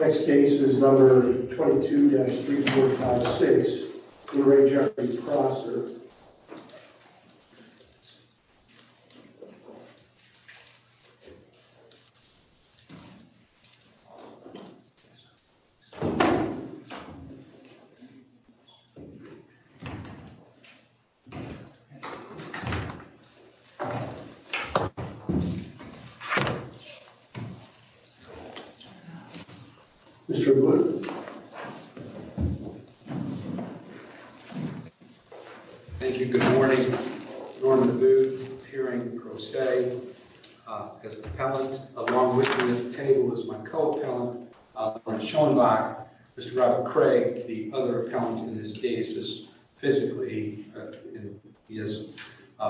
Next case is number 22-3456, Lee Re Jeffrey Prosser. Mr. Blue Thank you. Good morning. Norm Deboe, appearing pro se as appellant, along with me at the table as my co-appellant, Sean Bach, Mr. Robert Craig, the other appellant in this case is physically, and he has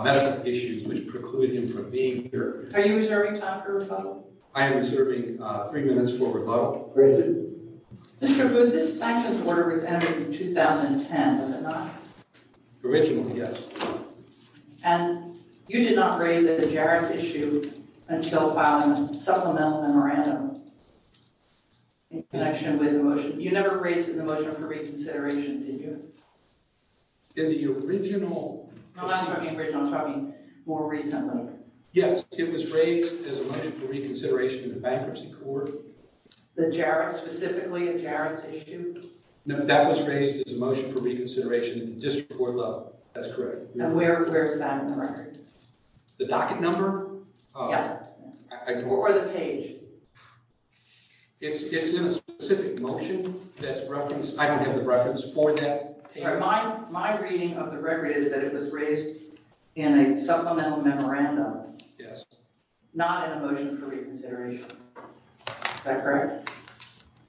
medical issues which preclude him from being here. Are you reserving time for rebuttal? I am reserving three minutes for rebuttal. Granted. Mr. Booth, this sanctions order was entered in 2010, was it not? Originally, yes. And you did not raise it at Jared's issue until filing a supplemental memorandum in connection with the motion. You never raised it in the motion for reconsideration, did you? In the original... No, I'm talking original, I'm talking more recently. Yes, it was raised as a motion for reconsideration in the bankruptcy court. The Jared, specifically in Jared's issue? No, that was raised as a motion for reconsideration in the district court level. That's correct. And where is that in the record? The docket number? Yeah, or the page. It's in a specific motion that's referenced. I don't have the reference for that. My reading of the record is that it was raised in a supplemental memorandum. Yes. Not in a motion for reconsideration. Is that correct?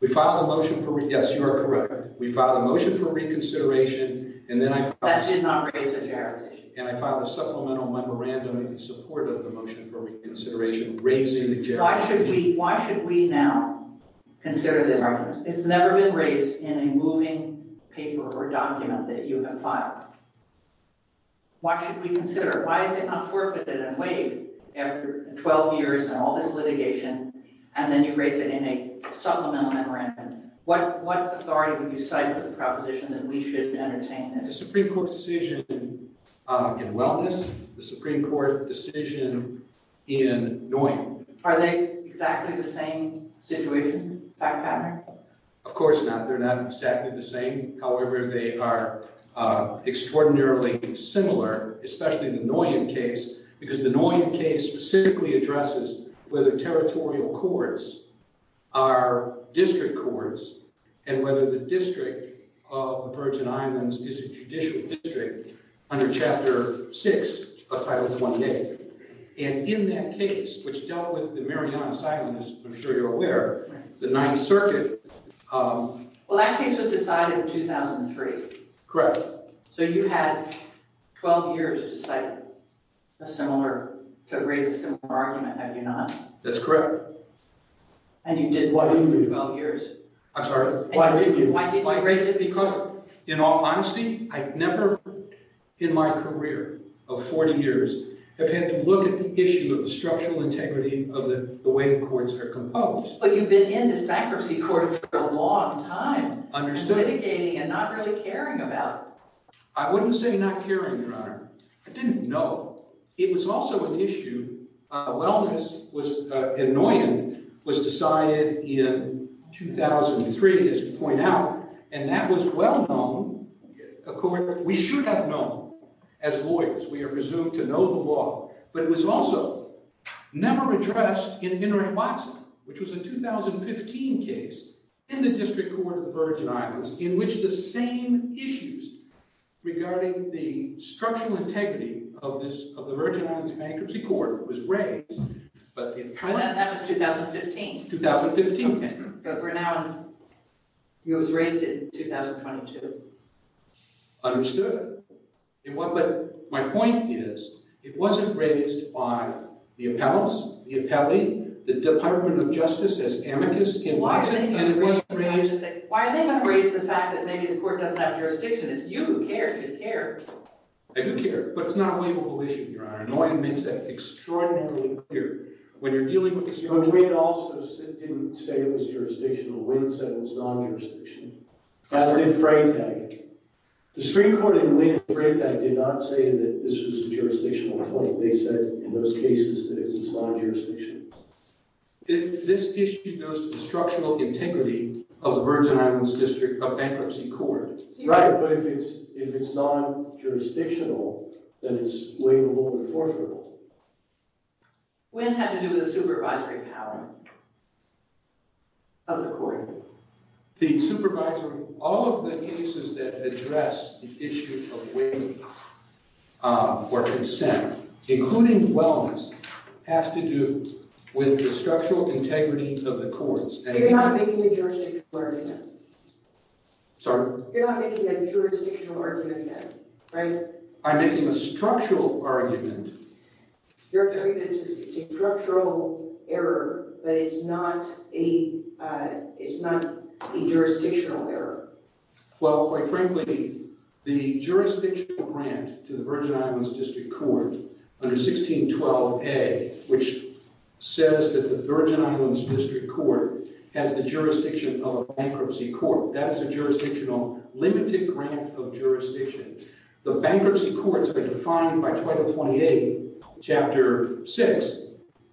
We filed a motion for reconsideration. Yes, you are correct. We filed a motion for reconsideration and then I filed a supplemental memorandum in support of the motion for reconsideration raising the Jared's issue. Why should we now consider this argument? It's never been raised in a moving paper or document that you have filed. Why should we consider? Why is it not forfeited and waived after 12 years and all this litigation and then you raise it in a supplemental memorandum? What authority would you cite for the proposition that we should entertain this? The Supreme Court decision in wellness, the Supreme Court decision in knowing. Are they exactly the same situation? Of course not. They're not exactly the same. However, they are extraordinarily similar, especially the noise in case because the noise in case specifically addresses whether territorial courts are district courts and whether the district of the Virgin Islands is a judicial district under Chapter 6 of Title 1. And in that case which dealt with the Marianas Island is I'm sure you're aware the Ninth Circuit. Well, that case was decided in 2003. Correct. So you had 12 years to cite a similar to raise a similar argument. Have you not? That's correct. And you didn't. Why didn't you? 12 years. I'm sorry. Why didn't you? Why didn't you raise it? Because in all honesty, I've never in my career of 40 years have had to look at the issue of the structural integrity of the way the courts are composed. But you've been in this bankruptcy court for a long time. Understood. Mitigating and not really caring about. I wouldn't say not caring, Your Honor. I didn't know. It was also an issue of wellness was annoying was decided in 2003 is to point out and that was well known. Of course, we should have known as lawyers. We are presumed to know the law, but it was also never addressed in Henry Watson, which was a 2015 case in the District Court of the Virgin Islands in which the same issues regarding the structural integrity of this of the Virgin Islands Bankruptcy Court was raised. But in 2015, 2015, but we're now you was raised in 2022. Understood in what but my point is it wasn't raised by the county, the Department of Justice as amicus in Watson, and it wasn't raised. Why are they going to raise the fact that maybe the court doesn't have jurisdiction? It's you who cares you care. I do care, but it's not a label issue. Your Honor. No one makes that extraordinarily clear when you're dealing with the structure. We'd also sit didn't say it was jurisdictional. Wynn said it was non-jurisdiction. As did Freytag. The Supreme Court in Wynn and Freytag did not say that this was a jurisdictional claim. They said in those cases that it was non-jurisdictional. If this issue goes to the structural integrity of the Virgin Islands District of Bankruptcy Court. Right, but if it's if it's non-jurisdictional, then it's waivable or forfeitable. Wynn had to do with the supervisory power of the court. The supervisory, all of the cases that address the issue of including wellness has to do with the structural integrity of the courts. You're not making a jurisdictional argument. Sorry? You're not making a jurisdictional argument, right? I'm making a structural argument. You're making a structural error, but it's not a it's not a jurisdictional error. Well, quite frankly, the jurisdictional grant to the Virgin 1612 A, which says that the Virgin Islands District Court has the jurisdiction of a bankruptcy court. That is a jurisdictional limited grant of jurisdiction. The bankruptcy courts are defined by 2028 Chapter 6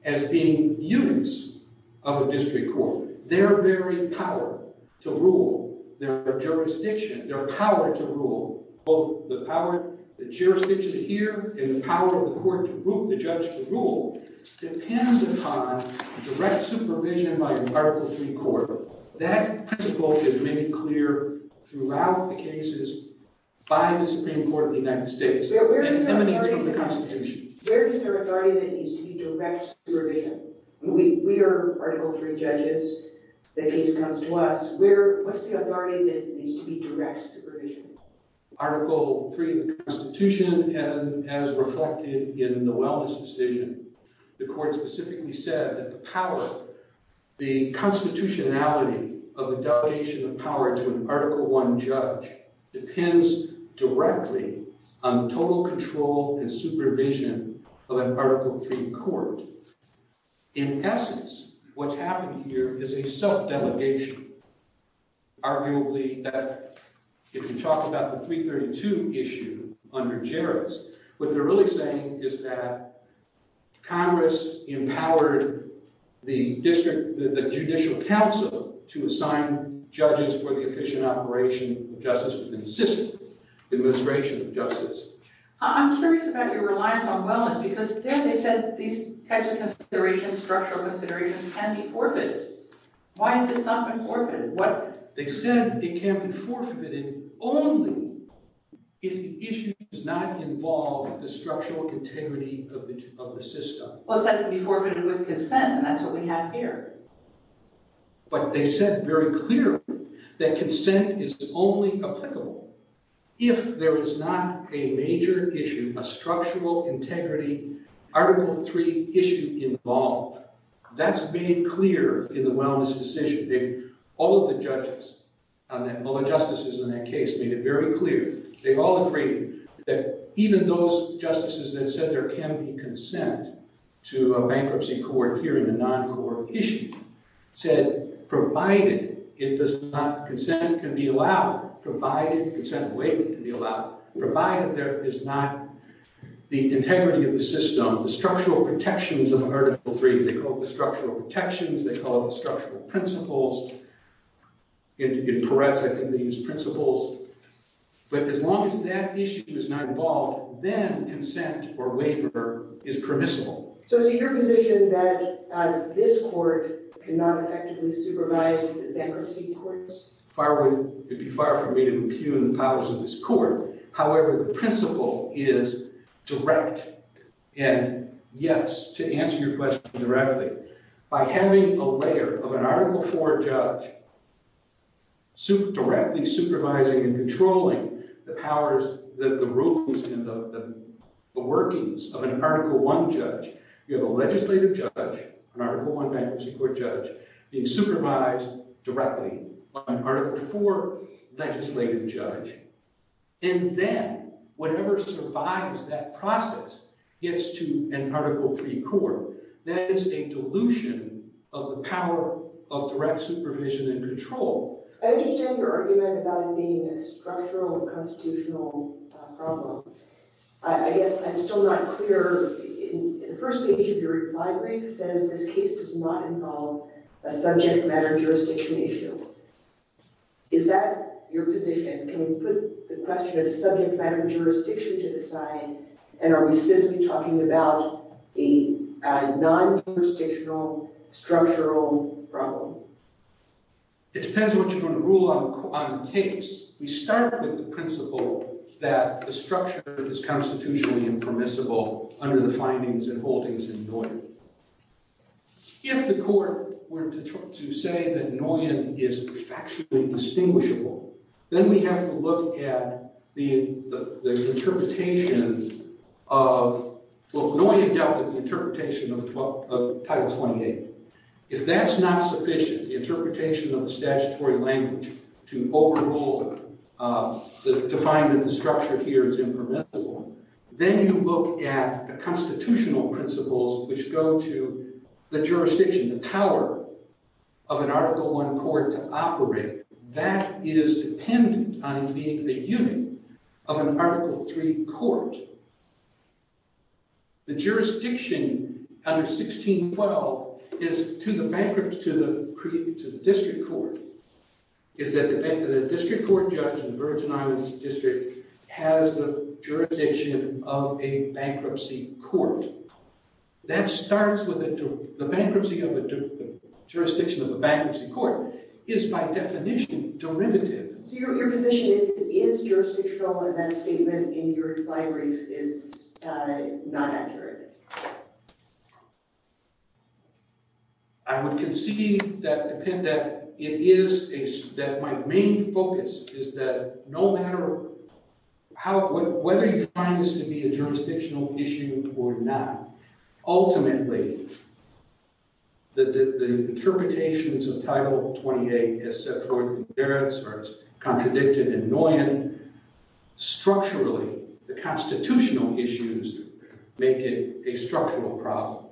as being units of a district court. Their very power to rule their jurisdiction, their power to rule both the power, the jurisdiction here, and the power of the court to root the judge to rule depends upon direct supervision by an Article 3 court. That principle is made clear throughout the cases by the Supreme Court of the United States. It emanates from the Constitution. Where is there authority that needs to be direct supervision? We are Article 3 judges. The case comes to us. Where, what's the authority that needs to be direct supervision? Article 3 of the Constitution and as reflected in the wellness decision, the court specifically said that the power, the constitutionality of the donation of power to an Article 1 judge depends directly on total control and supervision of an Article 3 court. In essence, what's happening here is a self-delegation. Arguably, if you talk about the 332 issue under juris, what they're really saying is that Congress empowered the Judicial Council to assign judges for the efficient operation of justice within the system, administration of justice. I'm curious about your reliance on wellness because there they said these types of considerations, structural considerations can be forfeited. Why is this not been forfeited? What? They said it can be forfeited only if the issue is not involved with the structural integrity of the system. Well, it's not going to be forfeited with consent and that's what we have here. But they said very clearly that consent is only applicable if there is not a major issue, a structural integrity Article 3 issue involved. That's made clear in the wellness decision. All of the judges, all the justices in that case made it very clear. They all agreed that even those justices that said there can be consent to a bankruptcy court here in the non-court issue said provided it does not, consent can be allowed, provided consent waiting can be allowed, provided there is not the integrity of the system, the structural protections of Article 3. They call it the structural protections. They call it the structural principles. In Peretz, I think they use principles. But as long as that issue is not involved, then consent or waiver is permissible. So is it your position that this court cannot effectively supervise the bankruptcy courts? Far would, it would be far from me to impugn the powers of this court. However, the principle is direct and yes, to answer your question directly, by having a layer of an Article 4 judge directly supervising and controlling the powers that the rulings and the workings of an Article 1 judge, you have a legislative judge, an Article 1 bankruptcy court judge being supervised directly by an Article 4 legislative judge and then whatever survives that process gets to an Article 3 court. That is a dilution of the power of direct supervision and control. I understand your argument about it being a structural constitutional problem. I guess I'm still not clear. The first page of your reply brief says this case does not involve a subject matter jurisdiction issue. Is that your position? Can we put the question of subject matter jurisdiction to side and are we simply talking about a non-jurisdictional structural problem? It depends on what you want to rule on the case. We start with the principle that the structure is constitutionally impermissible under the findings and holdings in Noyan. If the court were to say that Noyan is factually distinguishable then we have to look at the interpretations of, well, Noyan dealt with the interpretation of Title 28. If that's not sufficient, the interpretation of the statutory language to overrule, to find that the structure here is impermissible, then you look at the constitutional principles which go to the jurisdiction, the power of an Article 1 court to operate, that is dependent on it being the unit of an Article 3 court. The jurisdiction under 1612 is to the district court, is that the district court judge in the Virgin Islands District has the jurisdiction of a bankruptcy court. It is by definition derivative. So your position is that it is jurisdictional and that statement in your brief is not accurate. I would concede that it is, that my main focus is that no matter how, whether you find this to be a jurisdictional issue or not, ultimately the interpretations of Title 28 as set forth in Barrett's or as contradicted in Noyan, structurally, the constitutional issues make it a structural problem.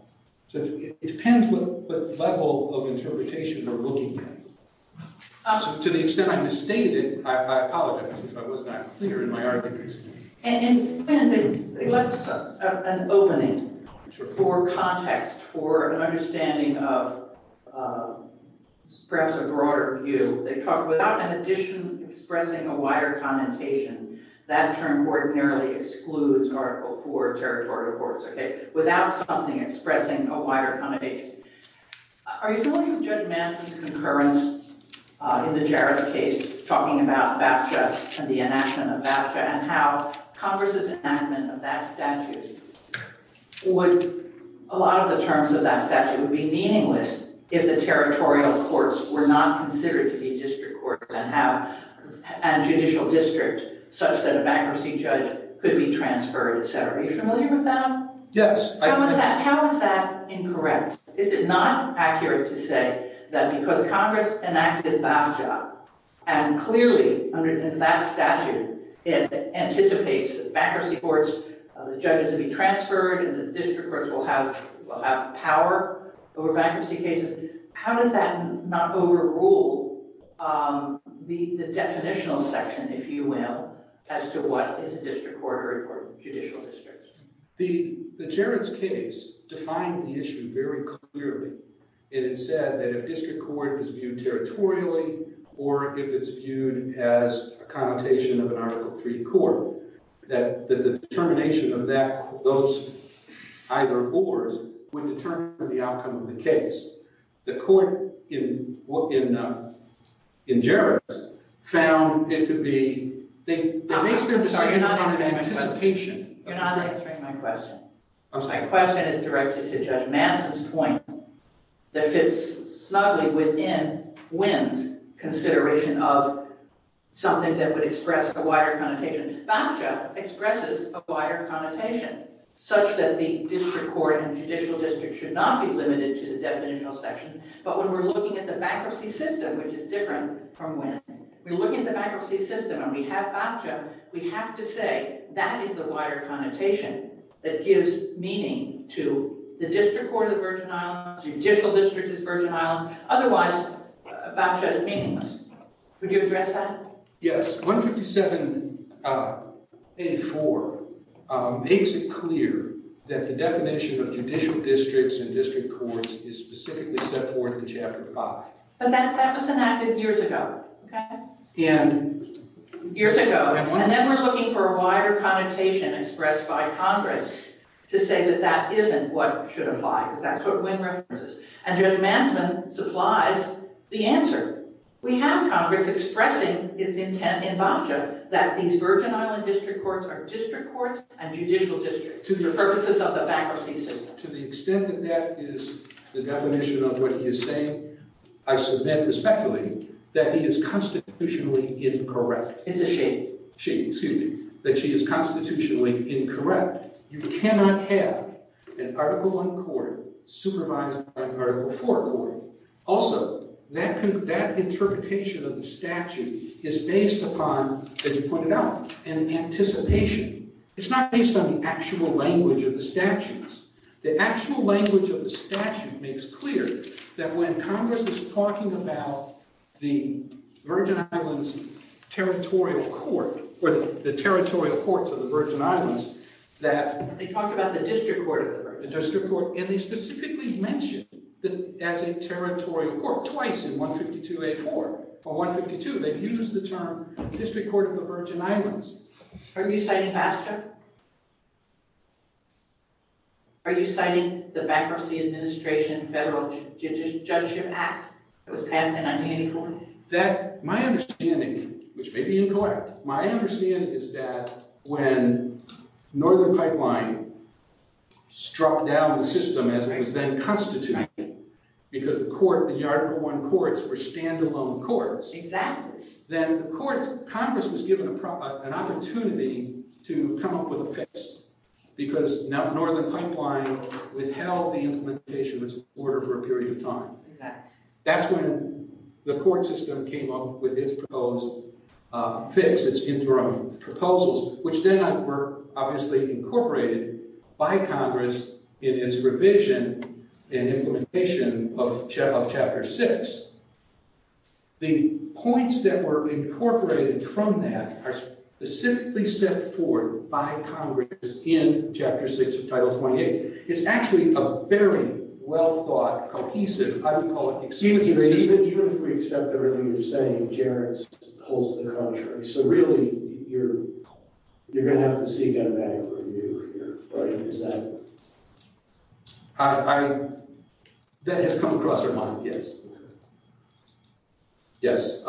So it depends what level of interpretation they're looking at. To the extent I misstated it, I apologize if I was not clear in my arguments. And they left an opening for context, for an understanding of perhaps a broader view. They talked about an addition expressing a wider commentation. That term ordinarily excludes Article 4 territory courts, okay, without something expressing a wider connotation. Are you familiar with Judge Manson's concurrence in the Jarrett's case talking about BAFTA and the enactment of BAFTA and how Congress's enactment of that statute would, a lot of the terms of that statute would be meaningless if the territorial courts were not considered to be district courts and have a judicial district such that a bankruptcy judge could be transferred, etc. Are you familiar with that? Yes. How is that, how is that incorrect? Is it not accurate to say that because Congress enacted BAFTA and clearly under that statute, it anticipates bankruptcy courts, the judges will be transferred and the district courts will have power over bankruptcy cases? How does that not overrule the definitional section, if you will, as to what is a district court or judicial district? The Jarrett's case defined the issue very clearly. It said that if district court is viewed territorially or if it's viewed as a connotation of an Article III court, that the determination of that, those either or's would determine the outcome of the case. The court in Jarrett's found it to be, they based their decision on an anticipation. You're not answering my question. My question is directed to Judge Manson's point that fits snugly within Wynne's consideration of something that would express a wider connotation. BAFTA expresses a wider connotation such that the district court and judicial district should not be limited to the definitional section. But when we're looking at the bankruptcy system, which is different from Wynne, we're looking at the bankruptcy system and we have BAFTA, we have to say that is the wider connotation that gives meaning to the district court of the Virgin Islands, judicial district of the Virgin Islands. Otherwise, BAFTA is meaningless. Would you address that? Yes. 157A.4 makes it clear that the definition of judicial districts and district courts is specifically set forth in Chapter 5. But that was enacted years ago. Years ago. And then we're looking for a wider connotation expressed by Congress to say that that isn't what should And Judge Manson supplies the answer. We have Congress expressing its intent in BAFTA that these Virgin Island district courts are district courts and judicial districts for purposes of the bankruptcy system. To the extent that that is the definition of what he is saying, I suspend the speculating that he is constitutionally incorrect. It's a shame. Shame, excuse me, that she is constitutionally incorrect. You cannot have an Article 4 court. Also, that interpretation of the statute is based upon, as you pointed out, an anticipation. It's not based on the actual language of the statutes. The actual language of the statute makes clear that when Congress is talking about the Virgin Islands territorial court or the territorial courts of the Virgin Islands that they talk about the district court the district court and they specifically mentioned that as a territorial court twice in 152A4 or 152, they've used the term district court of the Virgin Islands. Are you citing BAFTA? Are you citing the Bankruptcy Administration Federal Judgeship Act that was passed in 1984? That, my understanding, which may be incorrect, my understanding is that when Northern Pipeline struck down the system as it was then constituted because the court, the Article 1 courts were standalone courts. Exactly. Then the courts, Congress was given an opportunity to come up with a fix because now Northern Pipeline withheld the implementation of its order for a period of time. That's when the court system came up with its proposed fix, its interim proposals, which then were obviously incorporated by Congress in its revision and implementation of Chapter 6. The points that were incorporated from that are specifically set forth by Congress in Chapter 6 of Title 28. It's actually a very well-thought, cohesive, I would call it excuse me. Even if we accept everything you're saying, Jared holds the contrary. So really, you're going to have to seek automatic review here, right? Is that? That has come across our mind, yes. Yes,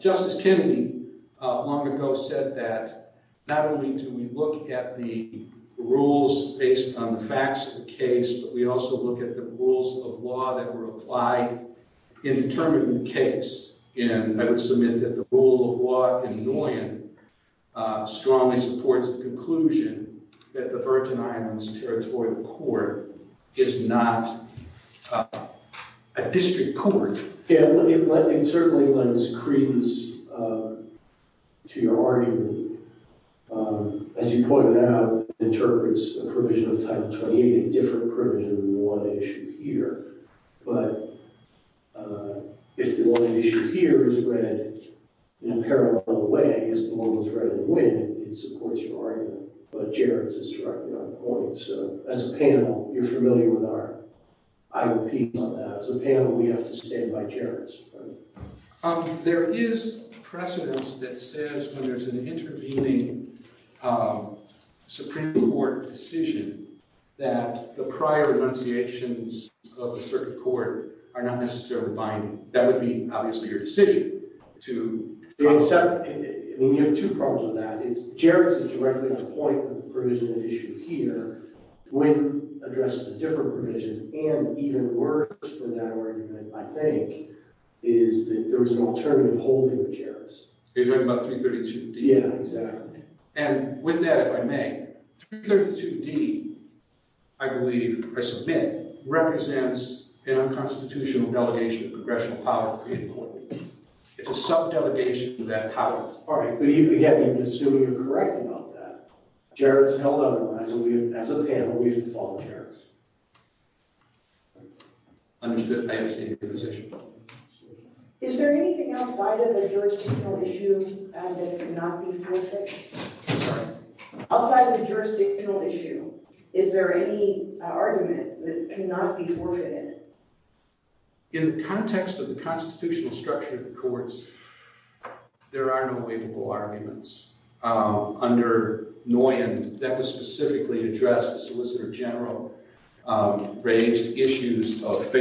Justice Kennedy long ago said that not only do we look at the rules based on the facts of the case, but we also look at the rules of law that were applied in determining the case. And I would submit that the rule of law in Noyan strongly supports the conclusion that the Virgin Islands Territorial Court is not a district court. Yeah, it certainly lends credence to your argument. As you pointed out, it interprets a provision of Title 28, a different provision than the one at issue here. But if the one at issue here is read in a parallel way as the one that's read in the wind, it supports your argument. But Jared's is directly on point. So as a panel, you're familiar with our I repeat on that. As a panel, we have to stand by Jared's. There is precedence that says when there's an intervening Supreme Court decision that the prior annunciations of a certain court are not necessarily binding. That would be obviously your decision to accept. I mean, you have two problems with that. It's Jared's is directly on point with the provision at issue here when addressed a different provision and even worse for that argument, I think, is that there was an alternative holding of Jared's. You're talking about 332D? Yeah, exactly. And with that, if I may, 332D, I believe, I submit, represents an unconstitutional delegation of congressional power to create a court. It's a subdelegation of that power. All right, but you can assume you're correct about that. Jared's held otherwise. As a panel, we've followed Jared's. I understand your position. Is there anything else? Why did the jurisdictional issue that cannot be forfeited? Outside of the jurisdictional issue, is there any argument that cannot be forfeited? In the context of the constitutional structure of the courts, there are no waivable arguments. Under Nguyen, that was specifically addressed. The Solicitor General raised issues of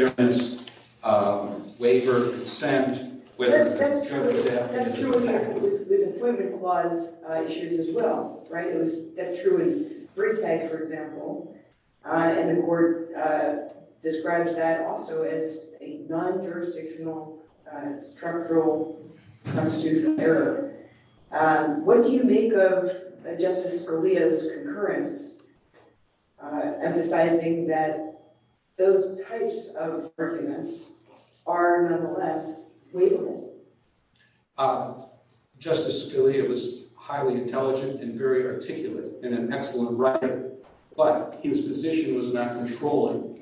employment clause issues as well, right? That's true in Britag, for example. And the court describes that also as a non-jurisdictional structural constitutional error. What do you make of Justice Scalia's concurrence emphasizing that those types of arguments are, nonetheless, waivable? Justice Scalia was highly intelligent and very articulate and an excellent writer, but his position was not controlling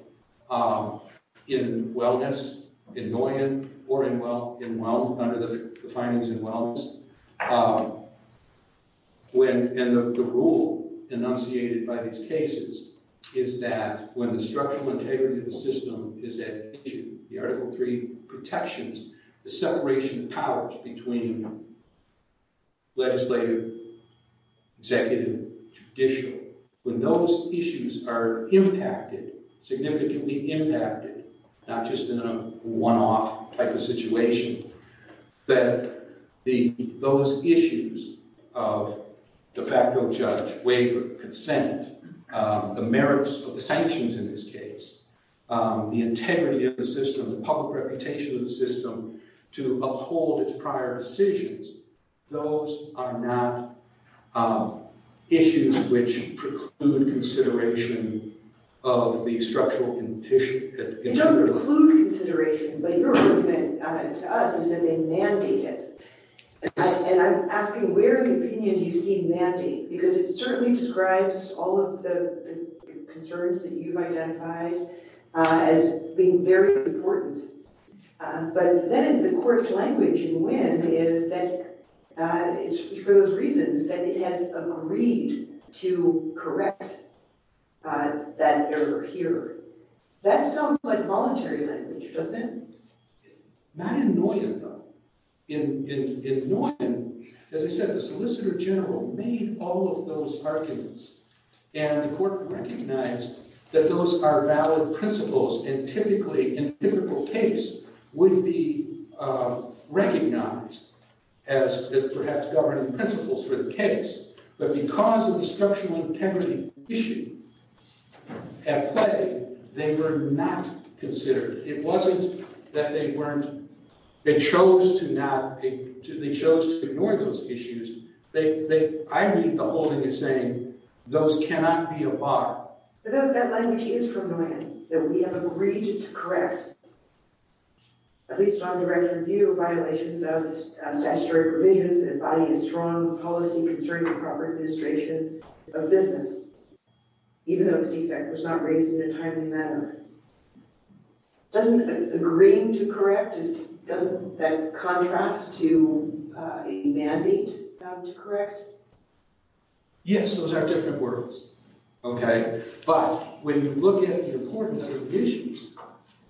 in wellness, in Nguyen, or under the findings in wellness. And the rule enunciated by these cases is that when the structural integrity of the system is at issue, the Article III protections, the separation of powers between legislative, executive, judicial, when those issues are impacted, significantly impacted, not just in a one-off type of situation, that those issues of de facto judge, waiver, consent, the merits of the sanctions in this case, the integrity of the system, the public reputation of the system to uphold its prior decisions, those are not issues which preclude consideration of the structural condition. They don't preclude consideration, but your argument to us is that they mandate it. And I'm asking, where in the opinion do you see mandate? Because it certainly describes all of the concerns that you've identified as being very important. But then the court's language in Nguyen is that it's for those reasons that it has agreed to correct that error here. That sounds like voluntary language, doesn't it? Not in Nguyen, though. In Nguyen, as I said, the Solicitor General made all of those arguments. And the court recognized that those are valid principles and typically, in a typical case, would be recognized as perhaps governing principles for the case. But because of the structural integrity issue at play, they were not considered. It wasn't that they weren't, they chose to ignore those issues. I read the holding as saying those cannot be a bar. But that language is from Nguyen, that we have agreed to correct, at least on the record, view violations of statutory provisions that embody a strong policy concern for proper administration of business, even though the defect was not raised in a timely manner. Doesn't agreeing to correct, doesn't that mandate that it's correct? Yes, those are different words. Okay, but when you look at the importance of the issues,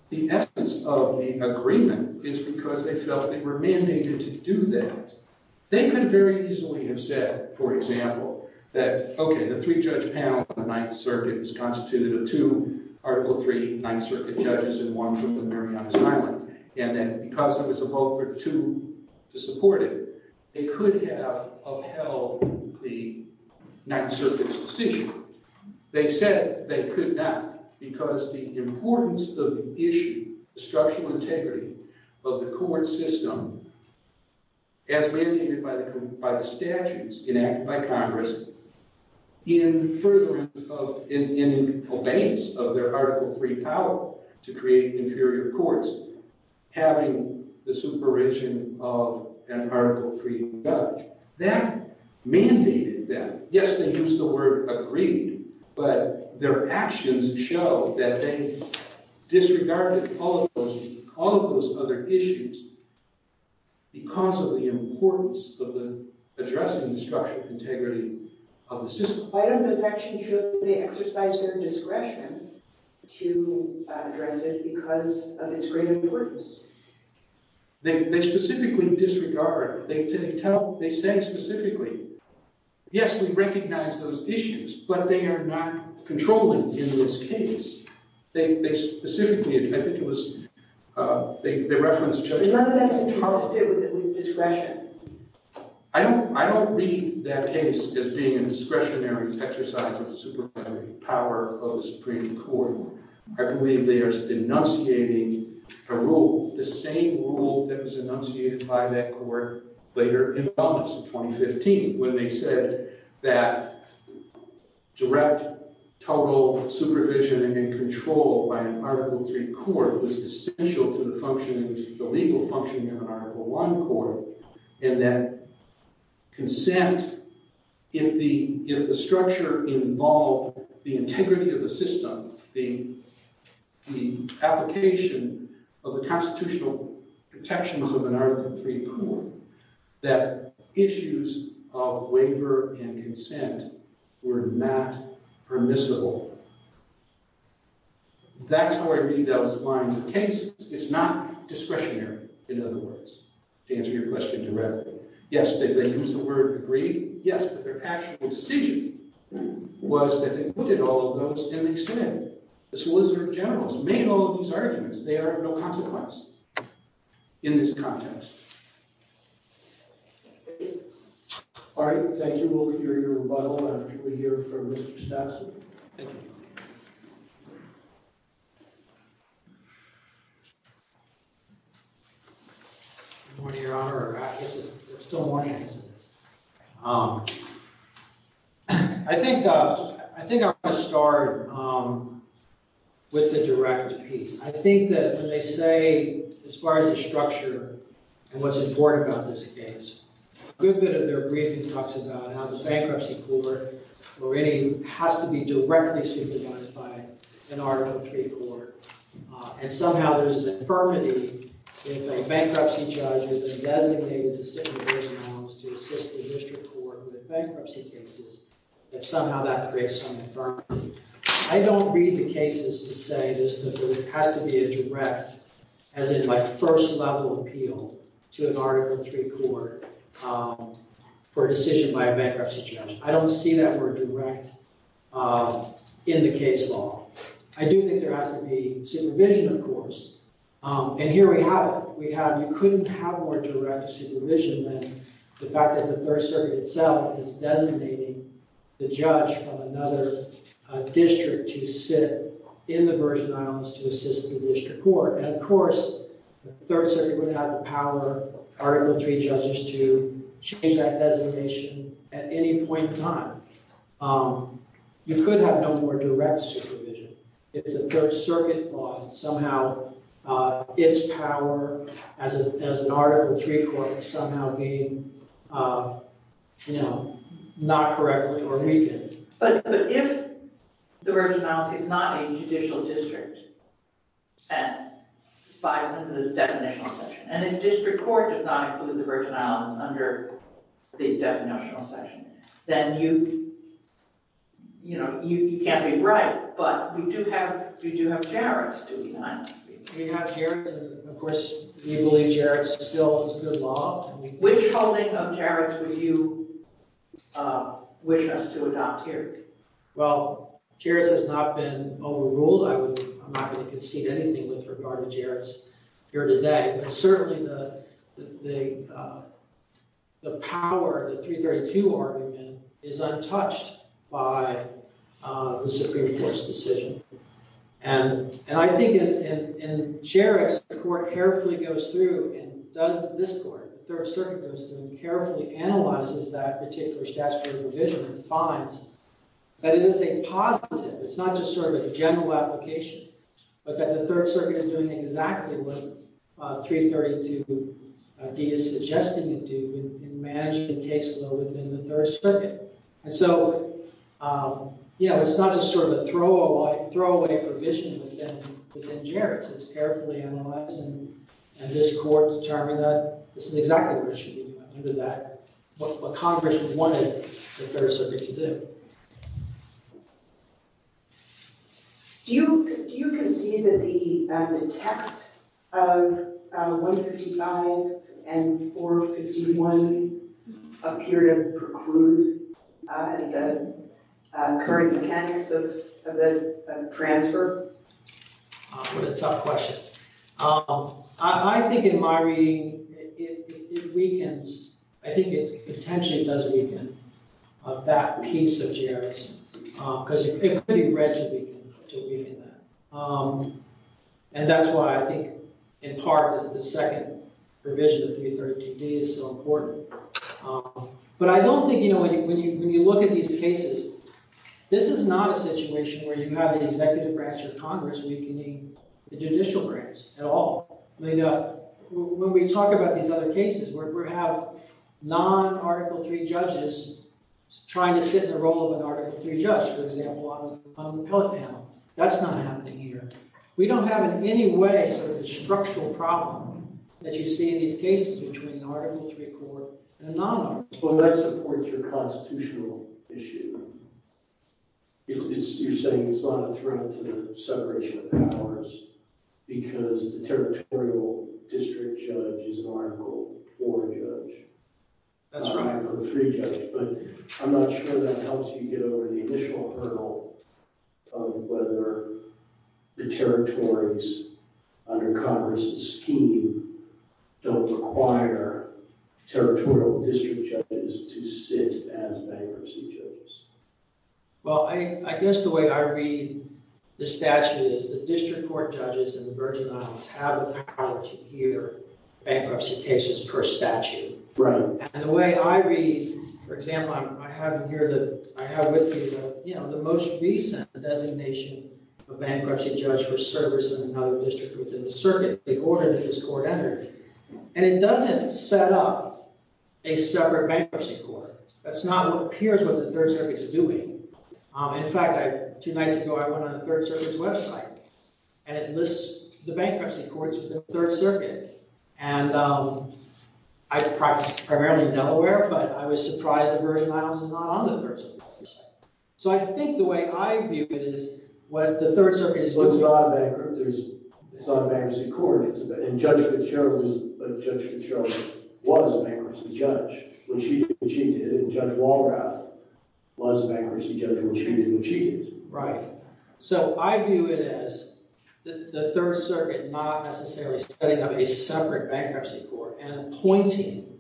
the essence of the agreement is because they felt they were mandated to do that. They could very easily have said, for example, that, okay, the three-judge panel on the Ninth Circuit was constituted of two Article III Ninth Circuit judges and one group of Marianas Highland. And then because it was a vote for two to support it, they could have upheld the Ninth Circuit's decision. They said they could not because the importance of the issue, the structural integrity of the court system, as mandated by the statutes enacted by Congress, in furtherance of, in obeisance of their Article III power to create inferior courts, having the supervision of an Article III judge. That mandated that. Yes, they used the word agreed, but their actions show that they disregarded all of those other issues because of the importance of the addressing the structural integrity of the system. Why don't those actions show that they exercise their discretion to address it because of its great importance? They specifically disregard, they tell, they say specifically, yes, we recognize those issues, but they are not controlling in this case. They specifically, I think it was, they reference judgment. None of that is consistent with discretion. I don't read that case as being a discretionary exercise of power of the Supreme Court. I believe they are denunciating a rule, the same rule that was enunciated by that court later in Congress in 2015 when they said that direct total supervision and control by an Article III court was essential to the functioning, the legal functioning of an Article I court, and that consent, if the structure involved the integrity of the system, the application of the constitutional protections of an Article III court, that issues of waiver and consent were not permissible. That's how I read those lines of cases. It's not discretionary, in other words, to answer your question directly. Yes, they use the word agreed. Yes, but their actual decision was that they put all of those in the extended. The Solicitor General has made all of these arguments. They are of no consequence in this context. All right. Thank you. We'll hear your rebuttal after we hear from Mr. Stassel. Thank you. Good morning, Your Honor. I think I'm going to start with the direct piece. I think that when they say, as far as the structure and what's important about this case, a good bit of their briefing talks about how the bankruptcy court has to be directly supervised by an Article III court, and somehow there's an infirmity if a bankruptcy judge is designated to sit in the prison homes to assist the district court with bankruptcy cases, that somehow that creates some infirmity. I don't read the cases to say this has to be a direct, as in my first level appeal, to an Article III court for a decision by a bankruptcy judge. I don't see that word direct in the case law. I do think there has to be supervision, of course, and here we have it. We have, you couldn't have more direct supervision than the fact that the Third Circuit itself is designating the judge from another district to sit in the prison homes to assist the district court. And of course, the Third Circuit would have the power, Article III judges to change that designation at any point in time. You could have no more direct supervision. If the Third Circuit has the power, as an Article III court, to somehow be not correct or weakened. But if the Virgin Islands is not a judicial district, by the definition of section, and if district court does not include the Virgin Islands under the definition of section, then you can't be right. But we do have, we do have garrants to deny. We have garrants, and of course, we believe garrants still is good law. Which holding of garrants would you wish us to adopt here? Well, garrants has not been overruled. I'm not going to concede anything with regard to garrants here today, but certainly the power, the 332 argument is untouched by the Supreme Court's decision. And I think in Sherriff's, the court carefully goes through and does, this court, the Third Circuit goes through and carefully analyzes that particular statutory provision and finds that it is a positive. It's not just sort of a general application, but that the Third Circuit is doing exactly what 332 D is You know, it's not just sort of a throw-away provision within Jarrett's. It's carefully analyzed, and this court determined that this is exactly what it should be, under that, what Congress wanted the Third Circuit to do. Do you concede that the text of 155 and 451 appear to preclude the current mechanics of the transfer? What a tough question. I think in my reading, it weakens. I think it potentially does weaken that piece of Jarrett's, because it could be read to weaken that. And that's why I think, in part, that the second provision of When you look at these cases, this is not a situation where you have an executive branch of Congress weakening the judicial branch at all. I mean, when we talk about these other cases, where we have non-Article III judges trying to sit in the role of an Article III judge, for example, on the appellate panel, that's not happening here. We don't have in any way sort of a structural problem that you see in these cases between an Article III court and a non-Article III court. Well, that supports your constitutional issue. You're saying it's not a threat to the separation of powers because the territorial district judge is an Article IV judge. That's right. Not an Article III judge, but I'm not sure that helps you get over the initial hurdle of whether the territories under Congress's scheme don't require territorial district judges to sit as bankruptcy judges. Well, I guess the way I read the statute is the district court judges in the Virgin Islands have the power to hear bankruptcy cases per statute. Right. And the way I read, for example, I have here that I have with you, you know, the most recent designation of bankruptcy judge for service in another district within the circuit, the order of the district court energy, and it doesn't set up a separate bankruptcy court. That's not what appears what the Third Circuit is doing. In fact, two nights ago, I went on the Third Circuit's website and it lists the bankruptcy courts within the Third Circuit and I practice primarily in Delaware, but I was surprised the Virgin Islands is not on the Third Circuit's website. So I think the way I view it is what the Third Circuit is doing. No, it's not a bankruptcy court, and Judge Fitzgerald was a bankruptcy judge. What she did, Judge Walrath was a bankruptcy judge, and what she did, what she did. Right. So I view it as the Third Circuit not necessarily setting up a separate bankruptcy court and appointing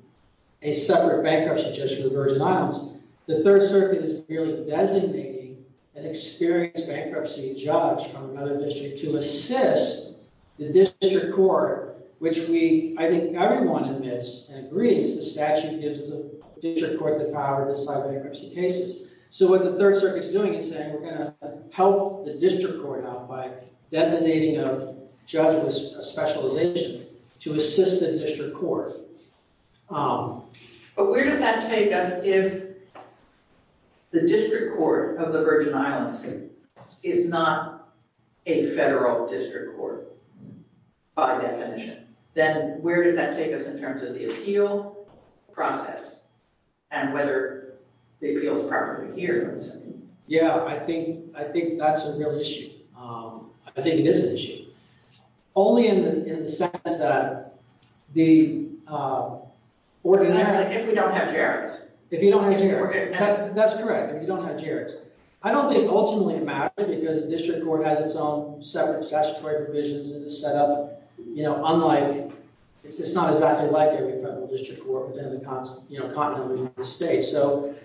a separate bankruptcy judge for the Virgin Islands. The Third Circuit is merely designating an experienced bankruptcy judge from another district to assist the district court, which we, I think everyone admits and agrees the statute gives the district court the power to decide bankruptcy cases. So what the Third Circuit is doing is saying we're going to help the district court out by designating a judge with a specialization to assist the district court. If it's not a federal district court by definition, then where does that take us in terms of the appeal process and whether the appeal is properly adhered to? Yeah, I think that's a real issue. I think it is an issue. Only in the sense that the ordinary... If we don't have jarrods. If you don't have jarrods, that's correct. If you don't have jarrods. I don't think ultimately it matters because the district court has its own separate statutory provisions and is set up, you know, unlike, it's just not exactly like every federal district court within the continent of the United States. So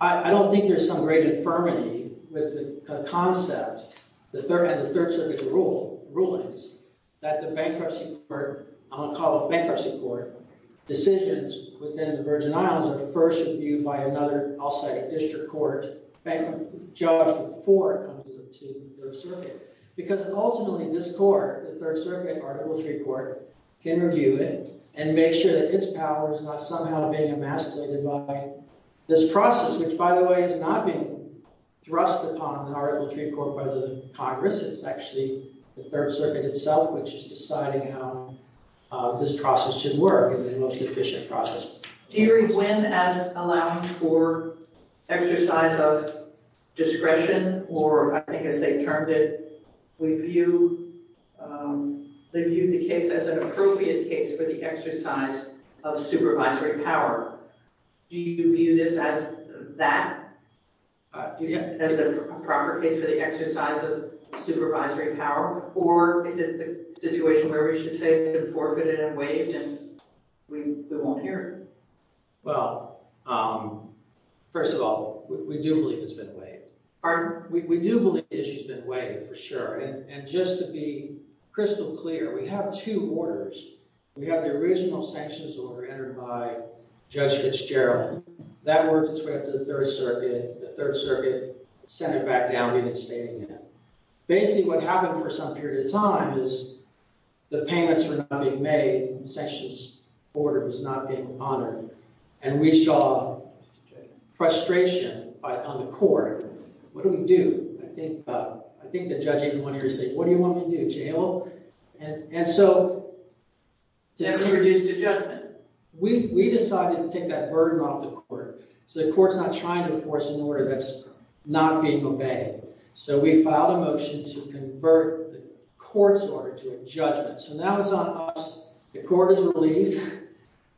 I don't think there's some great infirmity with the concept and the Third Circuit's rulings that the bankruptcy court, I'm going to call it bankruptcy court, decisions within the Virgin Islands are first reviewed by another, I'll say district court bankruptcy judge before it comes to the Third Circuit because ultimately this court, the Third Circuit, Article III court, can review it and make sure that its power is not somehow being emasculated by this process, which by the way is not being thrust upon the Article III court by the Congress. It's actually the Third Circuit itself, which is deciding how this process should work, the most efficient process. Deidre, when as allowing for exercise of discretion or I think as they termed it, we view, they viewed the case as an appropriate case for the exercise of supervisory power. Do you view this as that, as a proper case for the exercise of supervisory power or is it the situation where we should say it's been forfeited and waived and we won't hear it? Well, first of all, we do believe it's been waived. We do believe the issue's been waived for sure and just to be crystal clear, we have two orders. We have the original sanctions order entered by Judge Fitzgerald. That worked its way up to the Third Circuit. The Third Circuit sent it back down and reinstated it. Basically, what happened for some period of time is the payments were not being made, the sanctions order was not being honored and we saw frustration on the court. What do we do? I think the judge even went in and said, what do you want me to do? Jail? And so, we decided to take that burden off the court so the court's not trying to enforce an order that's not being obeyed. So, we filed a motion to convert the court's order to a judgment. So, now it's on us, the court is relieved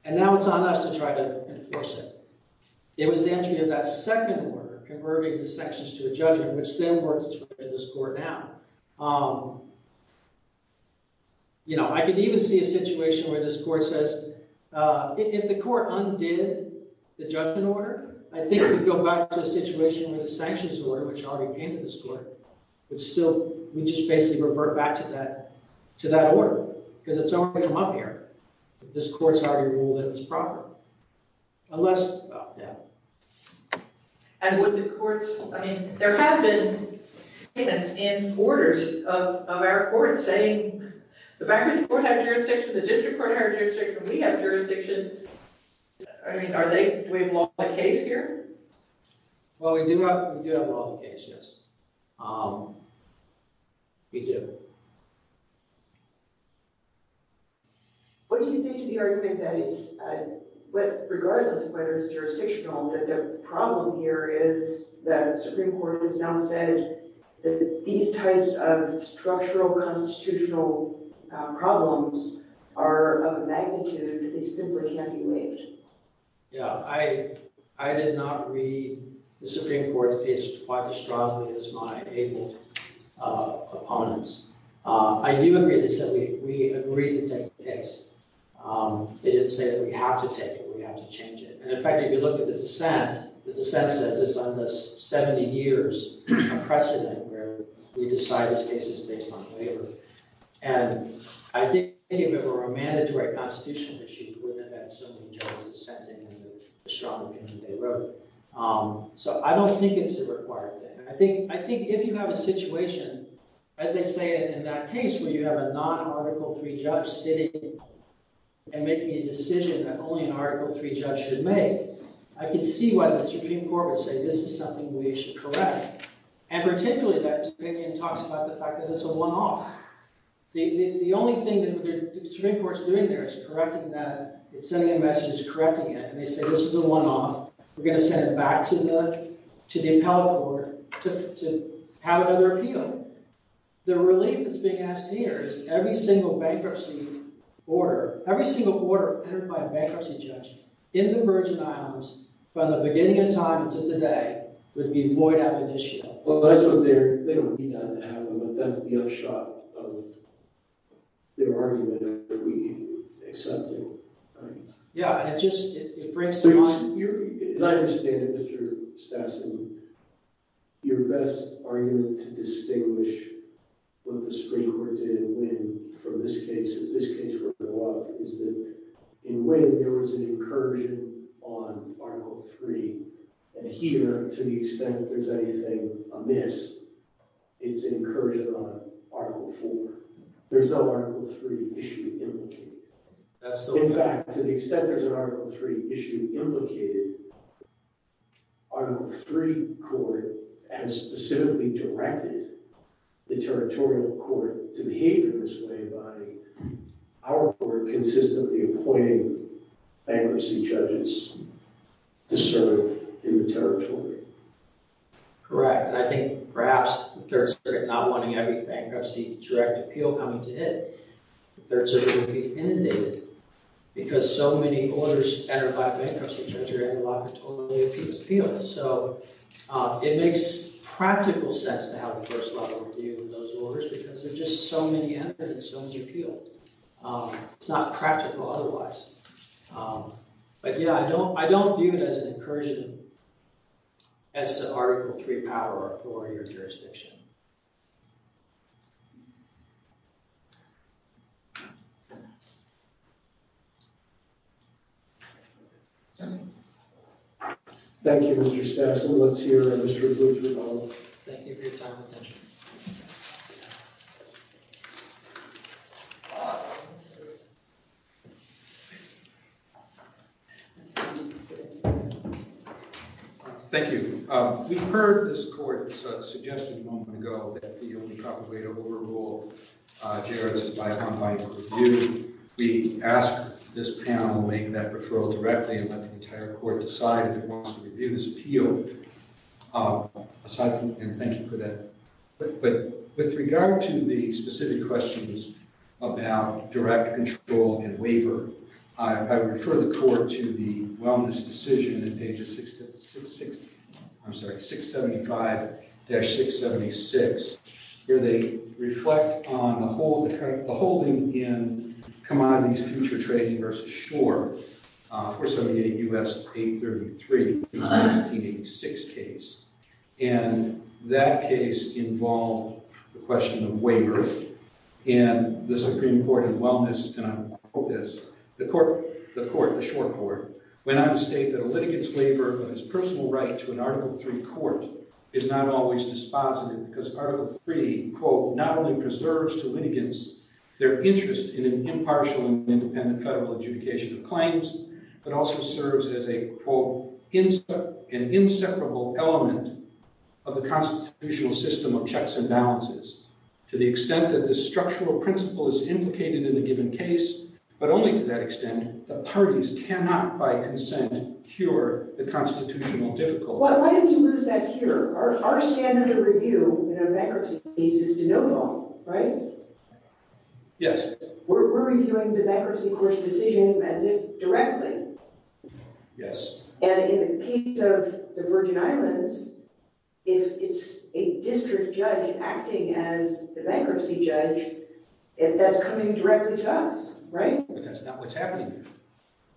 and now it's on us to try to enforce it. It was the entry of that second order, converting the sanctions to a judgment, which then works in this court now. You know, I could even see a situation where this court says, if the court undid the judgment order, I think we'd go back to a situation where the sanctions order, which already came to this court, but still, we just basically revert back to that order because it's already come up here. This court's already ruled it was proper. Unless, well, yeah. And would the courts, I mean, there have been statements in quarters of our court saying, the bankruptcy court had jurisdiction, the district court had jurisdiction, we have jurisdiction. I mean, are they, do we have a lawful case here? Well, we do have a lawful case, yes. We do. What do you think to the argument that it's, regardless of whether it's jurisdictional, that the problem here is that Supreme Court has now said that these types of structural constitutional problems are of a magnitude that they simply can't be waived. Yeah, I did not read the Supreme Court's case quite as strongly as my abled opponents. I do agree, they said we agreed to take the case. They didn't say that we have to take it, we have to change it. And in fact, if you look at the dissent, the dissent says it's under 70 years of precedent where we decide this case is based on waiver. And I think if it were a mandatory constitutional issue, we would have sent in the strong opinion they wrote. So I don't think it's a required thing. I think, I think if you have a situation, as they say in that case, where you have a non-Article 3 judge sitting and making a decision that only an Article 3 judge should make, I can see why the Supreme Court would say this is something we should correct. And particularly that opinion talks about the fact that it's a one-off. The only thing that the Supreme Court's doing there is sending a message correcting it. And they say this is a one-off. We're going to send it back to the appellate court to have another appeal. The relief that's being asked here is every single bankruptcy order, every single order entered by a bankruptcy judge in the Virgin Islands from the beginning of time to today would be void of an issue. Well, they don't need that to happen, but that's the upshot of their argument that we need to accept it. Yeah, it just, it breaks the mind. As I understand it, Mr. Stassen, your best argument to distinguish what the Supreme Court did in Wynn from this case, is this case, is that in Wynn, there was an incursion on Article 3. And here, to the extent there's anything amiss, it's an incursion on Article 4. There's no Article 3 issue implicated. In fact, to the extent there's an Article 3 issue implicated, Article 3 court has specifically directed the territorial court to behave in this way by our court consistently appointing bankruptcy judges to serve in the territory. Correct. I think perhaps the Third Circuit not wanting every bankruptcy direct appeal coming to it, the Third Circuit would be inundated because so many orders entered by bankruptcy judge or interlocutor totally appealed. So it makes practical sense to have a first-level review of those orders because there's just so many evidence to appeal. It's not practical otherwise. But yeah, I don't view it as an incursion as to Article 3 power or authority or jurisdiction. Thank you, Mr. Stassen. Let's hear from Mr. Boutry now. Thank you for your time and attention. Thank you. We heard this court's suggestion a moment ago that the only proper way to overrule Jared's is by unbiased review. We asked this panel to make that referral directly and let the entire court decide if it wants to review this appeal. Aside from, and thank you for that, but with regard to the specific questions about direct control and waiver, I would refer the court to the wellness decision in pages 675-676, where they reflect on the holding in Commodities Future Trading v. Shore, 478 U.S. 833, the 1986 case. And that case involved the question of waiver and the Supreme Court of Wellness, and I will quote this, the court, the court, the Shore Court, went on to state that a litigant's waiver of his personal right to an Article 3 court is not always dispositive because Article 3, quote, not only preserves to litigants their interest in an impartial and independent federal adjudication of claims, but also serves as a, quote, an inseparable element of the constitutional system of checks and balances. To the extent that the structural principle is implicated in a given case, but only to that extent, the parties cannot by consent cure the constitutional difficulty. Why did you lose that here? Our standard of review in a bankruptcy case is to know them, right? Yes. We're reviewing the bankruptcy court's decision as if directly. Yes. And in the case of the Virgin Islands, if it's a district judge acting as the bankruptcy judge, that's coming directly to us, right? But that's not what's happening.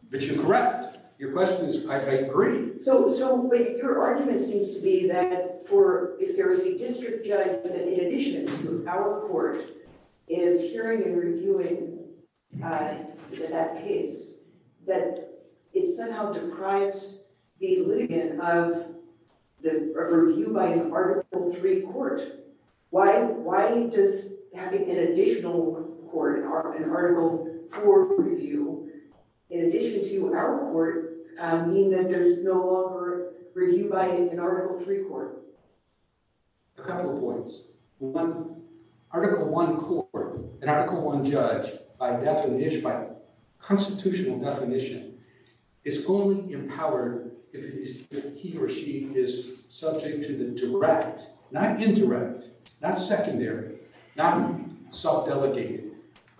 But you're correct. Your question is, I agree. So, but your argument seems to be that for, if there is a district judge that in addition to our court is hearing and reviewing that case, that it somehow deprives the litigant of the review by an Article 3 court. Why does having an additional court, an Article 4 review, in addition to our court, mean that there's no longer review by an Article 3 court? A couple of points. One, Article 1 court, an Article 1 judge, by constitutional definition, is only empowered if he or she is subject to the direct, not indirect, not secondary, not self-delegated,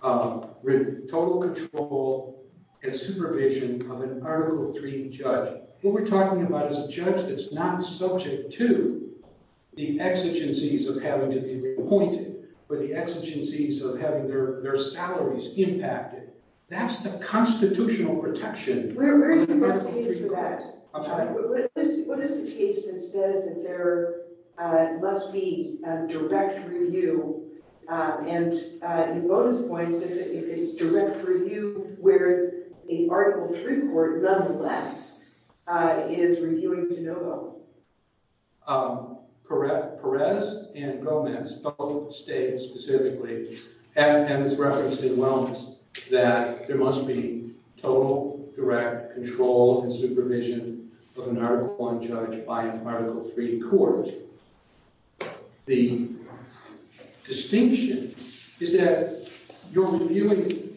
total control and supervision of an Article 3 judge. What we're talking about is a judge that's not subject to the exigencies of having to be appointed or the exigencies of having their salaries impacted. That's the constitutional protection. Where do you want to take that? What is the case that says that there must be a direct review? And in bonus points, if it's direct review where an Article 3 court, nonetheless, is reviewing de novo? Perez and Gomez both state specifically, and it's referenced in wellness, that there must be total direct control and supervision of an Article 1 judge by an Article 3 court. The distinction is that you're reviewing,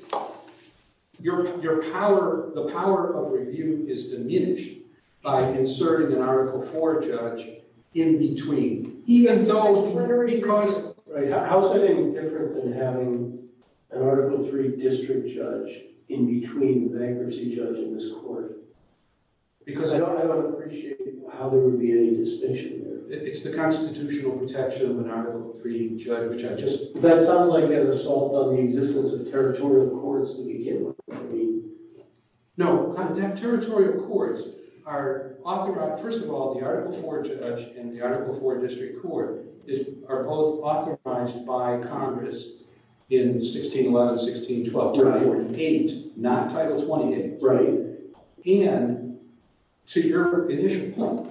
your power, the power of review is diminished by inserting an Article 4 judge in between. Even though, because, right, how's that any different than having an Article 3 district judge in between the bankruptcy judge in this court? Because I don't, I don't appreciate how there would be any distinction there. It's the constitutional protection of an Article 3 judge, which I just, that sounds like an assault on the existence of territorial courts that you can't, I mean. No, territorial courts are authorized, first of all, the Article 4 judge and the Article 4 district court are both authorized by Congress in 1611, 1612, 1348, not Title 28. Right. And to your initial point,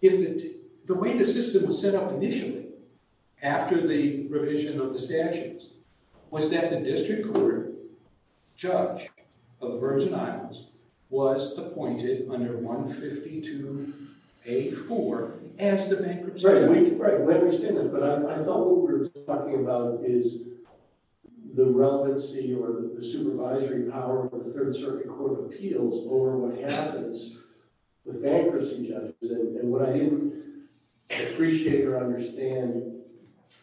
if the, the way the system was set up initially, after the revision of the statutes, was that the district court judge of the Virgin Islands was appointed under 152A4 as the bankruptcy judge. Right, we understand that, but I thought what we were talking about is the relevancy or the supervisory power of the Third Circuit Court of Appeals over what happens with bankruptcy judges. And what I didn't appreciate or understand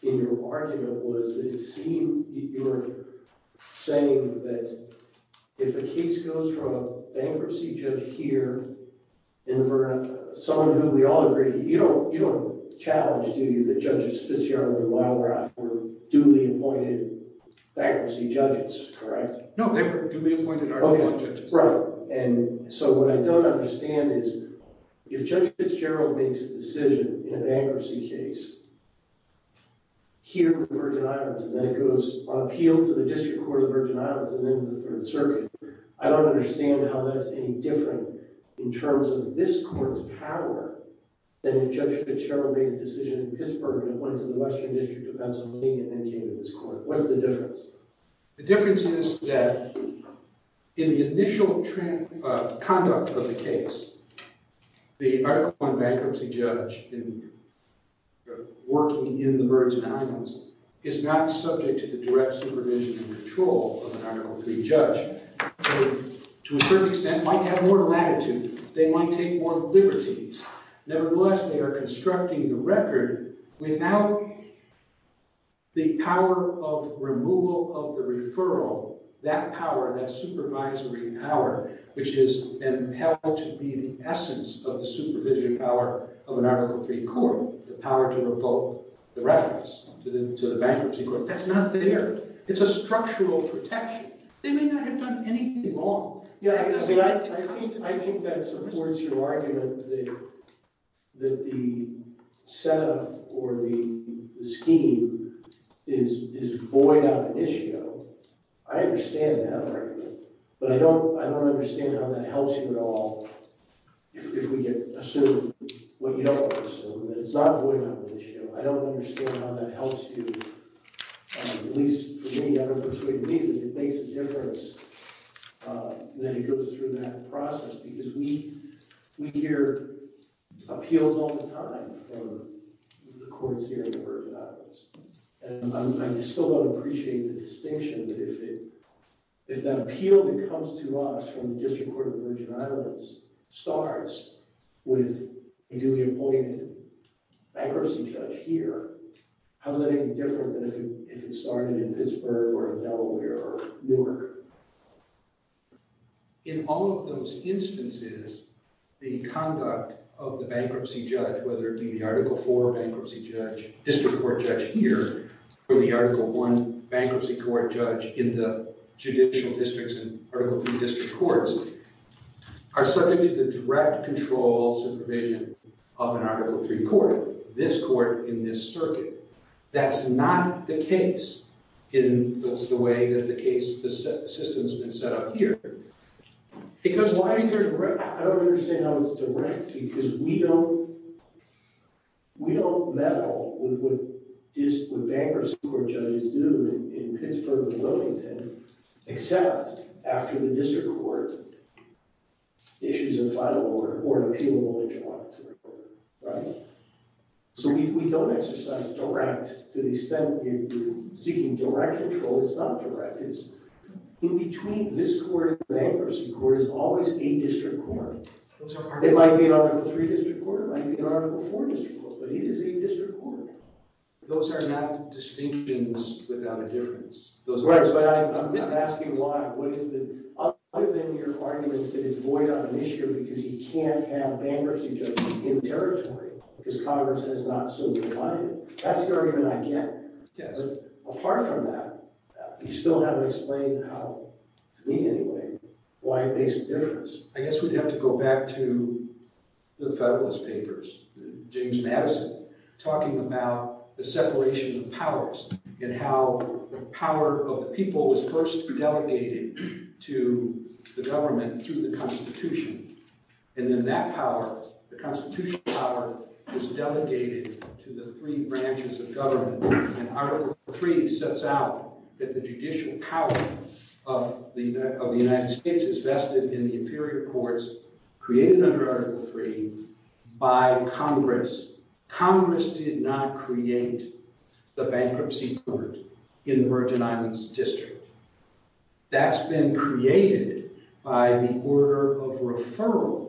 in your argument was that it seemed, you were saying that if a case goes from a bankruptcy judge here in the Virgin Islands, someone who we all agree, you don't, you don't challenge, do you, that Judge Fitzgerald and Wildrath were duly appointed bankruptcy judges, correct? No, they were duly appointed Article 4 judges. Right, and so what I don't understand is if Judge Fitzgerald makes a decision in a bankruptcy case here in the Virgin Islands and then it goes on appeal to the district court of the Virgin Islands and then the Third Circuit, I don't understand how that's any different in terms of this court's power than if Judge Fitzgerald made a decision in Pittsburgh and went to the Western District of Pennsylvania and then came to this court. What's the difference? The difference is that in the initial conduct of the case, the Article 1 bankruptcy judge working in the Virgin Islands is not subject to the direct supervision and control of an Article 3 judge. To a certain extent, they might have more latitude. They might take more liberties. Nevertheless, they are constructing the record without the power of removal of the referral, that power, that supervisory power, which is and held to be the essence of the supervision power of an Article 3 court, the power to revoke the reference to the bankruptcy court. That's not there. It's a structural protection. They may not have done anything wrong. I think that supports your argument that the set-up or the scheme is void out of the issue. I understand that argument, but I don't understand how that helps you at all if we assume what you don't want to assume. It's not void out of the issue. I don't understand how that helps you, at least for me, I don't think it makes a difference that it goes through that process because we hear appeals all the time from the courts here in the Virgin Islands, and I still don't appreciate the distinction that if that appeal that comes to us from the District Court of the Virgin Islands starts with a newly appointed bankruptcy judge here, how is that any different than if it started in Newark? In all of those instances, the conduct of the bankruptcy judge, whether it be the Article 4 bankruptcy judge, District Court judge here, or the Article 1 bankruptcy court judge in the Judicial Districts and Article 3 District Courts, are subject to the direct controls and provision of an Article 3 court, this court in this circuit. That's not the case in the way that the case, the system's been set up here. Because why is there a direct? I don't understand how it's direct because we don't, we don't meddle with what bankruptcy court judges do in Pittsburgh and Wilmington except after the District Court issues a final order or an appealable order, right? So we don't exercise direct, to the extent you're seeking direct control, it's not direct, it's in between this court and the bankruptcy court is always a District Court. It might be an Article 3 District Court, it might be an Article 4 District Court, but it is a District Court. Those are not distinctions without a difference. Right, but I'm asking why, what is the, other than your argument that it's void on issue because you can't have bankruptcy judges in the territory because Congress has not so defined it. That's the argument I get, but apart from that, you still haven't explained how, to me anyway, why it makes a difference. I guess we'd have to go back to the Federalist Papers, James Madison, talking about the separation of powers and how the power of the people was first delegated to the government through the Constitution, and then that power, the Constitution power, is delegated to the three branches of government, and Article 3 sets out that the judicial power of the United States is vested in the imperial courts created under Article 3 by Congress. Congress did not create the bankruptcy court in the Virgin Islands District. That's been created by the order of referral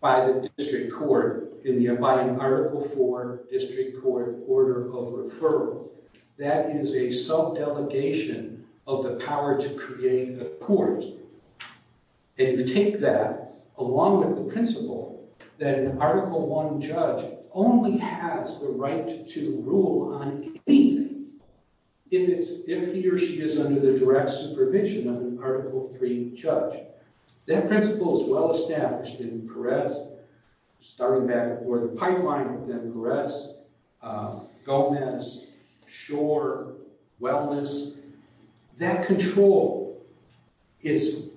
by the District Court in the, by an Article 4 District Court order of referral. That is a sub-delegation of the power to create a court, and you take that along with the principle that an Article 1 judge only has the right to rule on anything if it's, if he or she is under the direct supervision of an Article 3 judge. That principle is well established in Perez, starting back before the pipeline, then Perez, Gomez, Schor, Wellness. That control is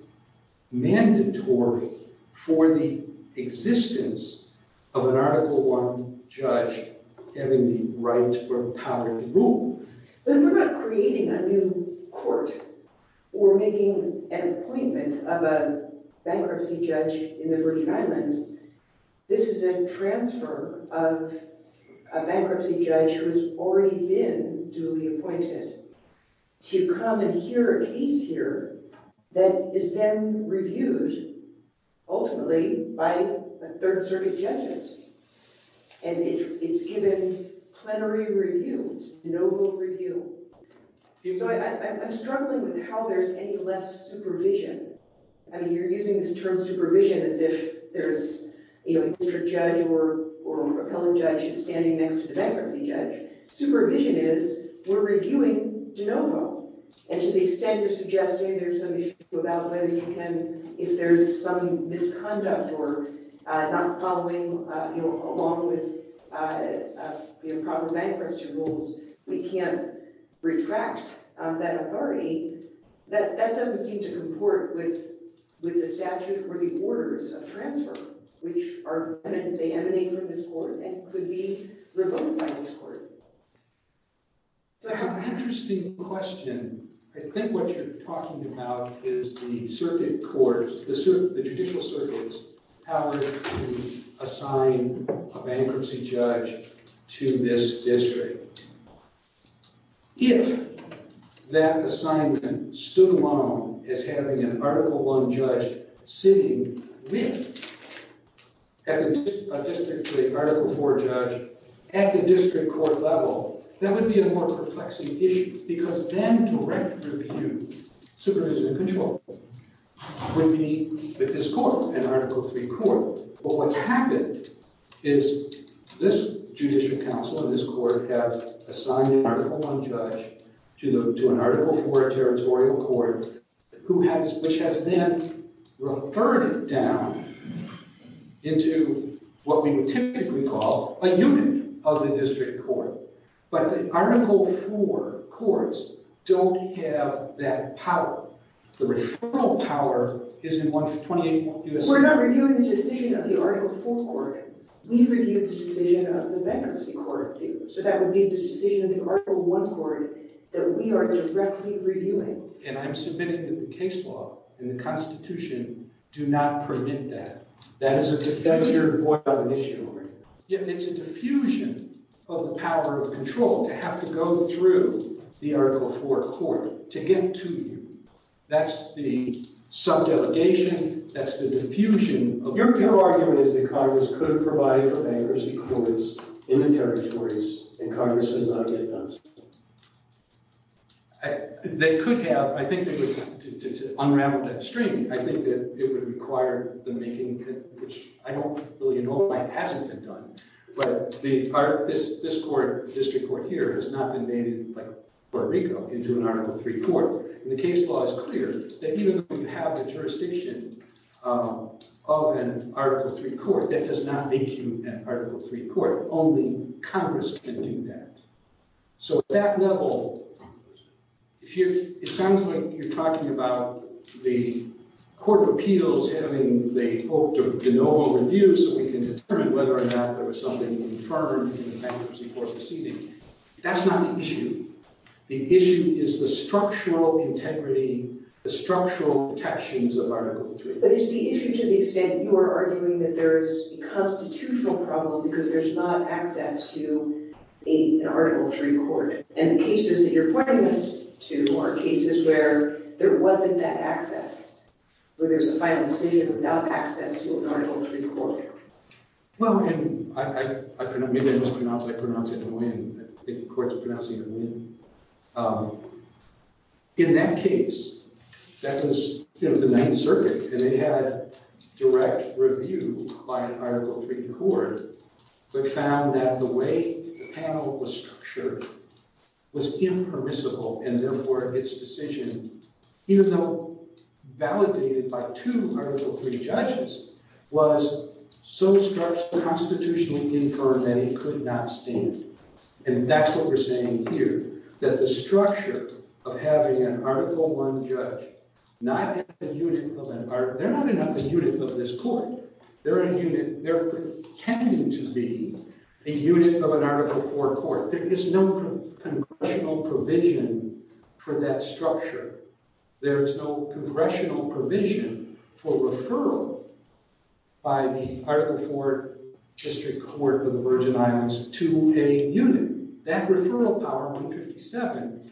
mandatory for the existence of an Article 1 judge having the right or power to rule. Then we're not creating a new court or making an appointment of a bankruptcy judge in the Virgin Islands. This is a transfer of a bankruptcy judge who has already been duly appointed to come and hear a case here that is then reviewed, ultimately, by the Third Circuit judges, and it's given plenary reviews, de novo review. So I'm struggling with how there's any less supervision. I mean, you're using this term supervision as if there's, you know, a district judge or appellate judge who's standing next to the bankruptcy judge. Supervision is, we're reviewing de novo, and to the extent you're suggesting there's some issue about whether you can, if there's some misconduct or not following, you know, along with, you know, proper bankruptcy rules, we can't retract that authority. That doesn't seem to comport with the statute or the orders of transfer, which are, they emanate from this court and could be revoked by this court. That's an interesting question. I think what you're talking about is the circuit court, the judicial circuit's power to assign a bankruptcy judge to this district. If that assignment stood alone as having an Article I judge sitting with a District 3, Article 4 judge at the district court level, that would be a more perplexing issue because then direct review, supervision and control, would be with this court, an Article 3 court. But what's happened is this judicial council and this court have assigned an Article I judge to an Article 4 territorial court, which has then reverted down into what we typically call a unit of the district court. But the Article 4 courts don't have that power. The referral power is in 28 U.S. We're not reviewing the decision of the Article 4 court. We review the decision of the bankruptcy court. So that would be the decision of the Article 1 court that we are directly reviewing. And I'm submitting that the case law and the Constitution do not permit that. That is your void of initiative. It's a diffusion of the power of control to have to go through the Article 4 court to get to you. That's the sub-delegation. That's the diffusion of power. Your argument is that Congress could provide for bankruptcy permits in the territories and Congress has not yet done so. They could have. I think to unravel that string, I think that it would require the making, which I don't really know why it hasn't been done. But this court, district court here, has not been made in Puerto Rico into an Article 3 court. And the case law is clear that even if you have a jurisdiction of an Article 3 court, that does not make you an Article 3 court. Only Congress can do that. So at that level, if you're, it sounds like you're talking about the court of appeals having the hope to do no overview so we can determine whether or not there was something inferred in the bankruptcy court proceeding. That's not the issue. The issue is the structural integrity, the structural attachments of Article 3. But it's the issue to the extent that you are arguing that there is a constitutional problem because there's not access to an Article 3 court. And the cases that you're pointing us to are cases where there wasn't that access, where there's a final decision without access to an Article 3 court. In that case, that was, you know, the Ninth Circuit. And they had direct review by an Article 3 court, but found that the way the panel was structured was impermissible and therefore its decision, even though validated by two Article 3 judges, was so structurally inferred that it could not stand. And that's what we're saying here, that the structure of having an Article 1 judge not in the unit of an article, they're not in the unit of this court. They're in a unit, they're pretending to be the unit of an Article 4 court. There is no congressional provision for that structure. There is no congressional provision for referral by the district to a unit. That referral power, 157,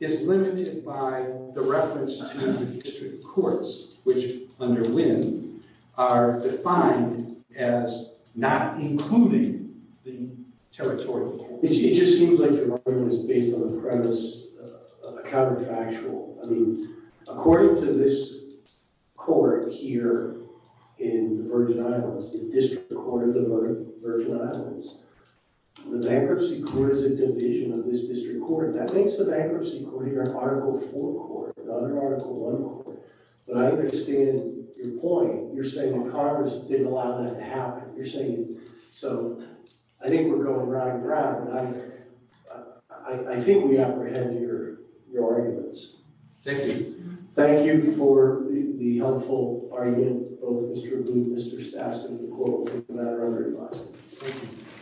is limited by the reference to the district courts, which, under Wynne, are defined as not including the territorial court. It just seems like your argument is based on a premise of a counterfactual. I mean, according to this court here in the Virgin Islands, the district court of the Virgin Islands, the bankruptcy court is a division of this district court. That makes the bankruptcy court here an Article 4 court, not an Article 1 court. But I understand your point. You're saying Congress didn't allow that to happen. You're saying, so I think we're going round and round. I think we apprehend your arguments. Thank you. Thank you for the helpful argument, both Mr. McClure and Madam Roberts.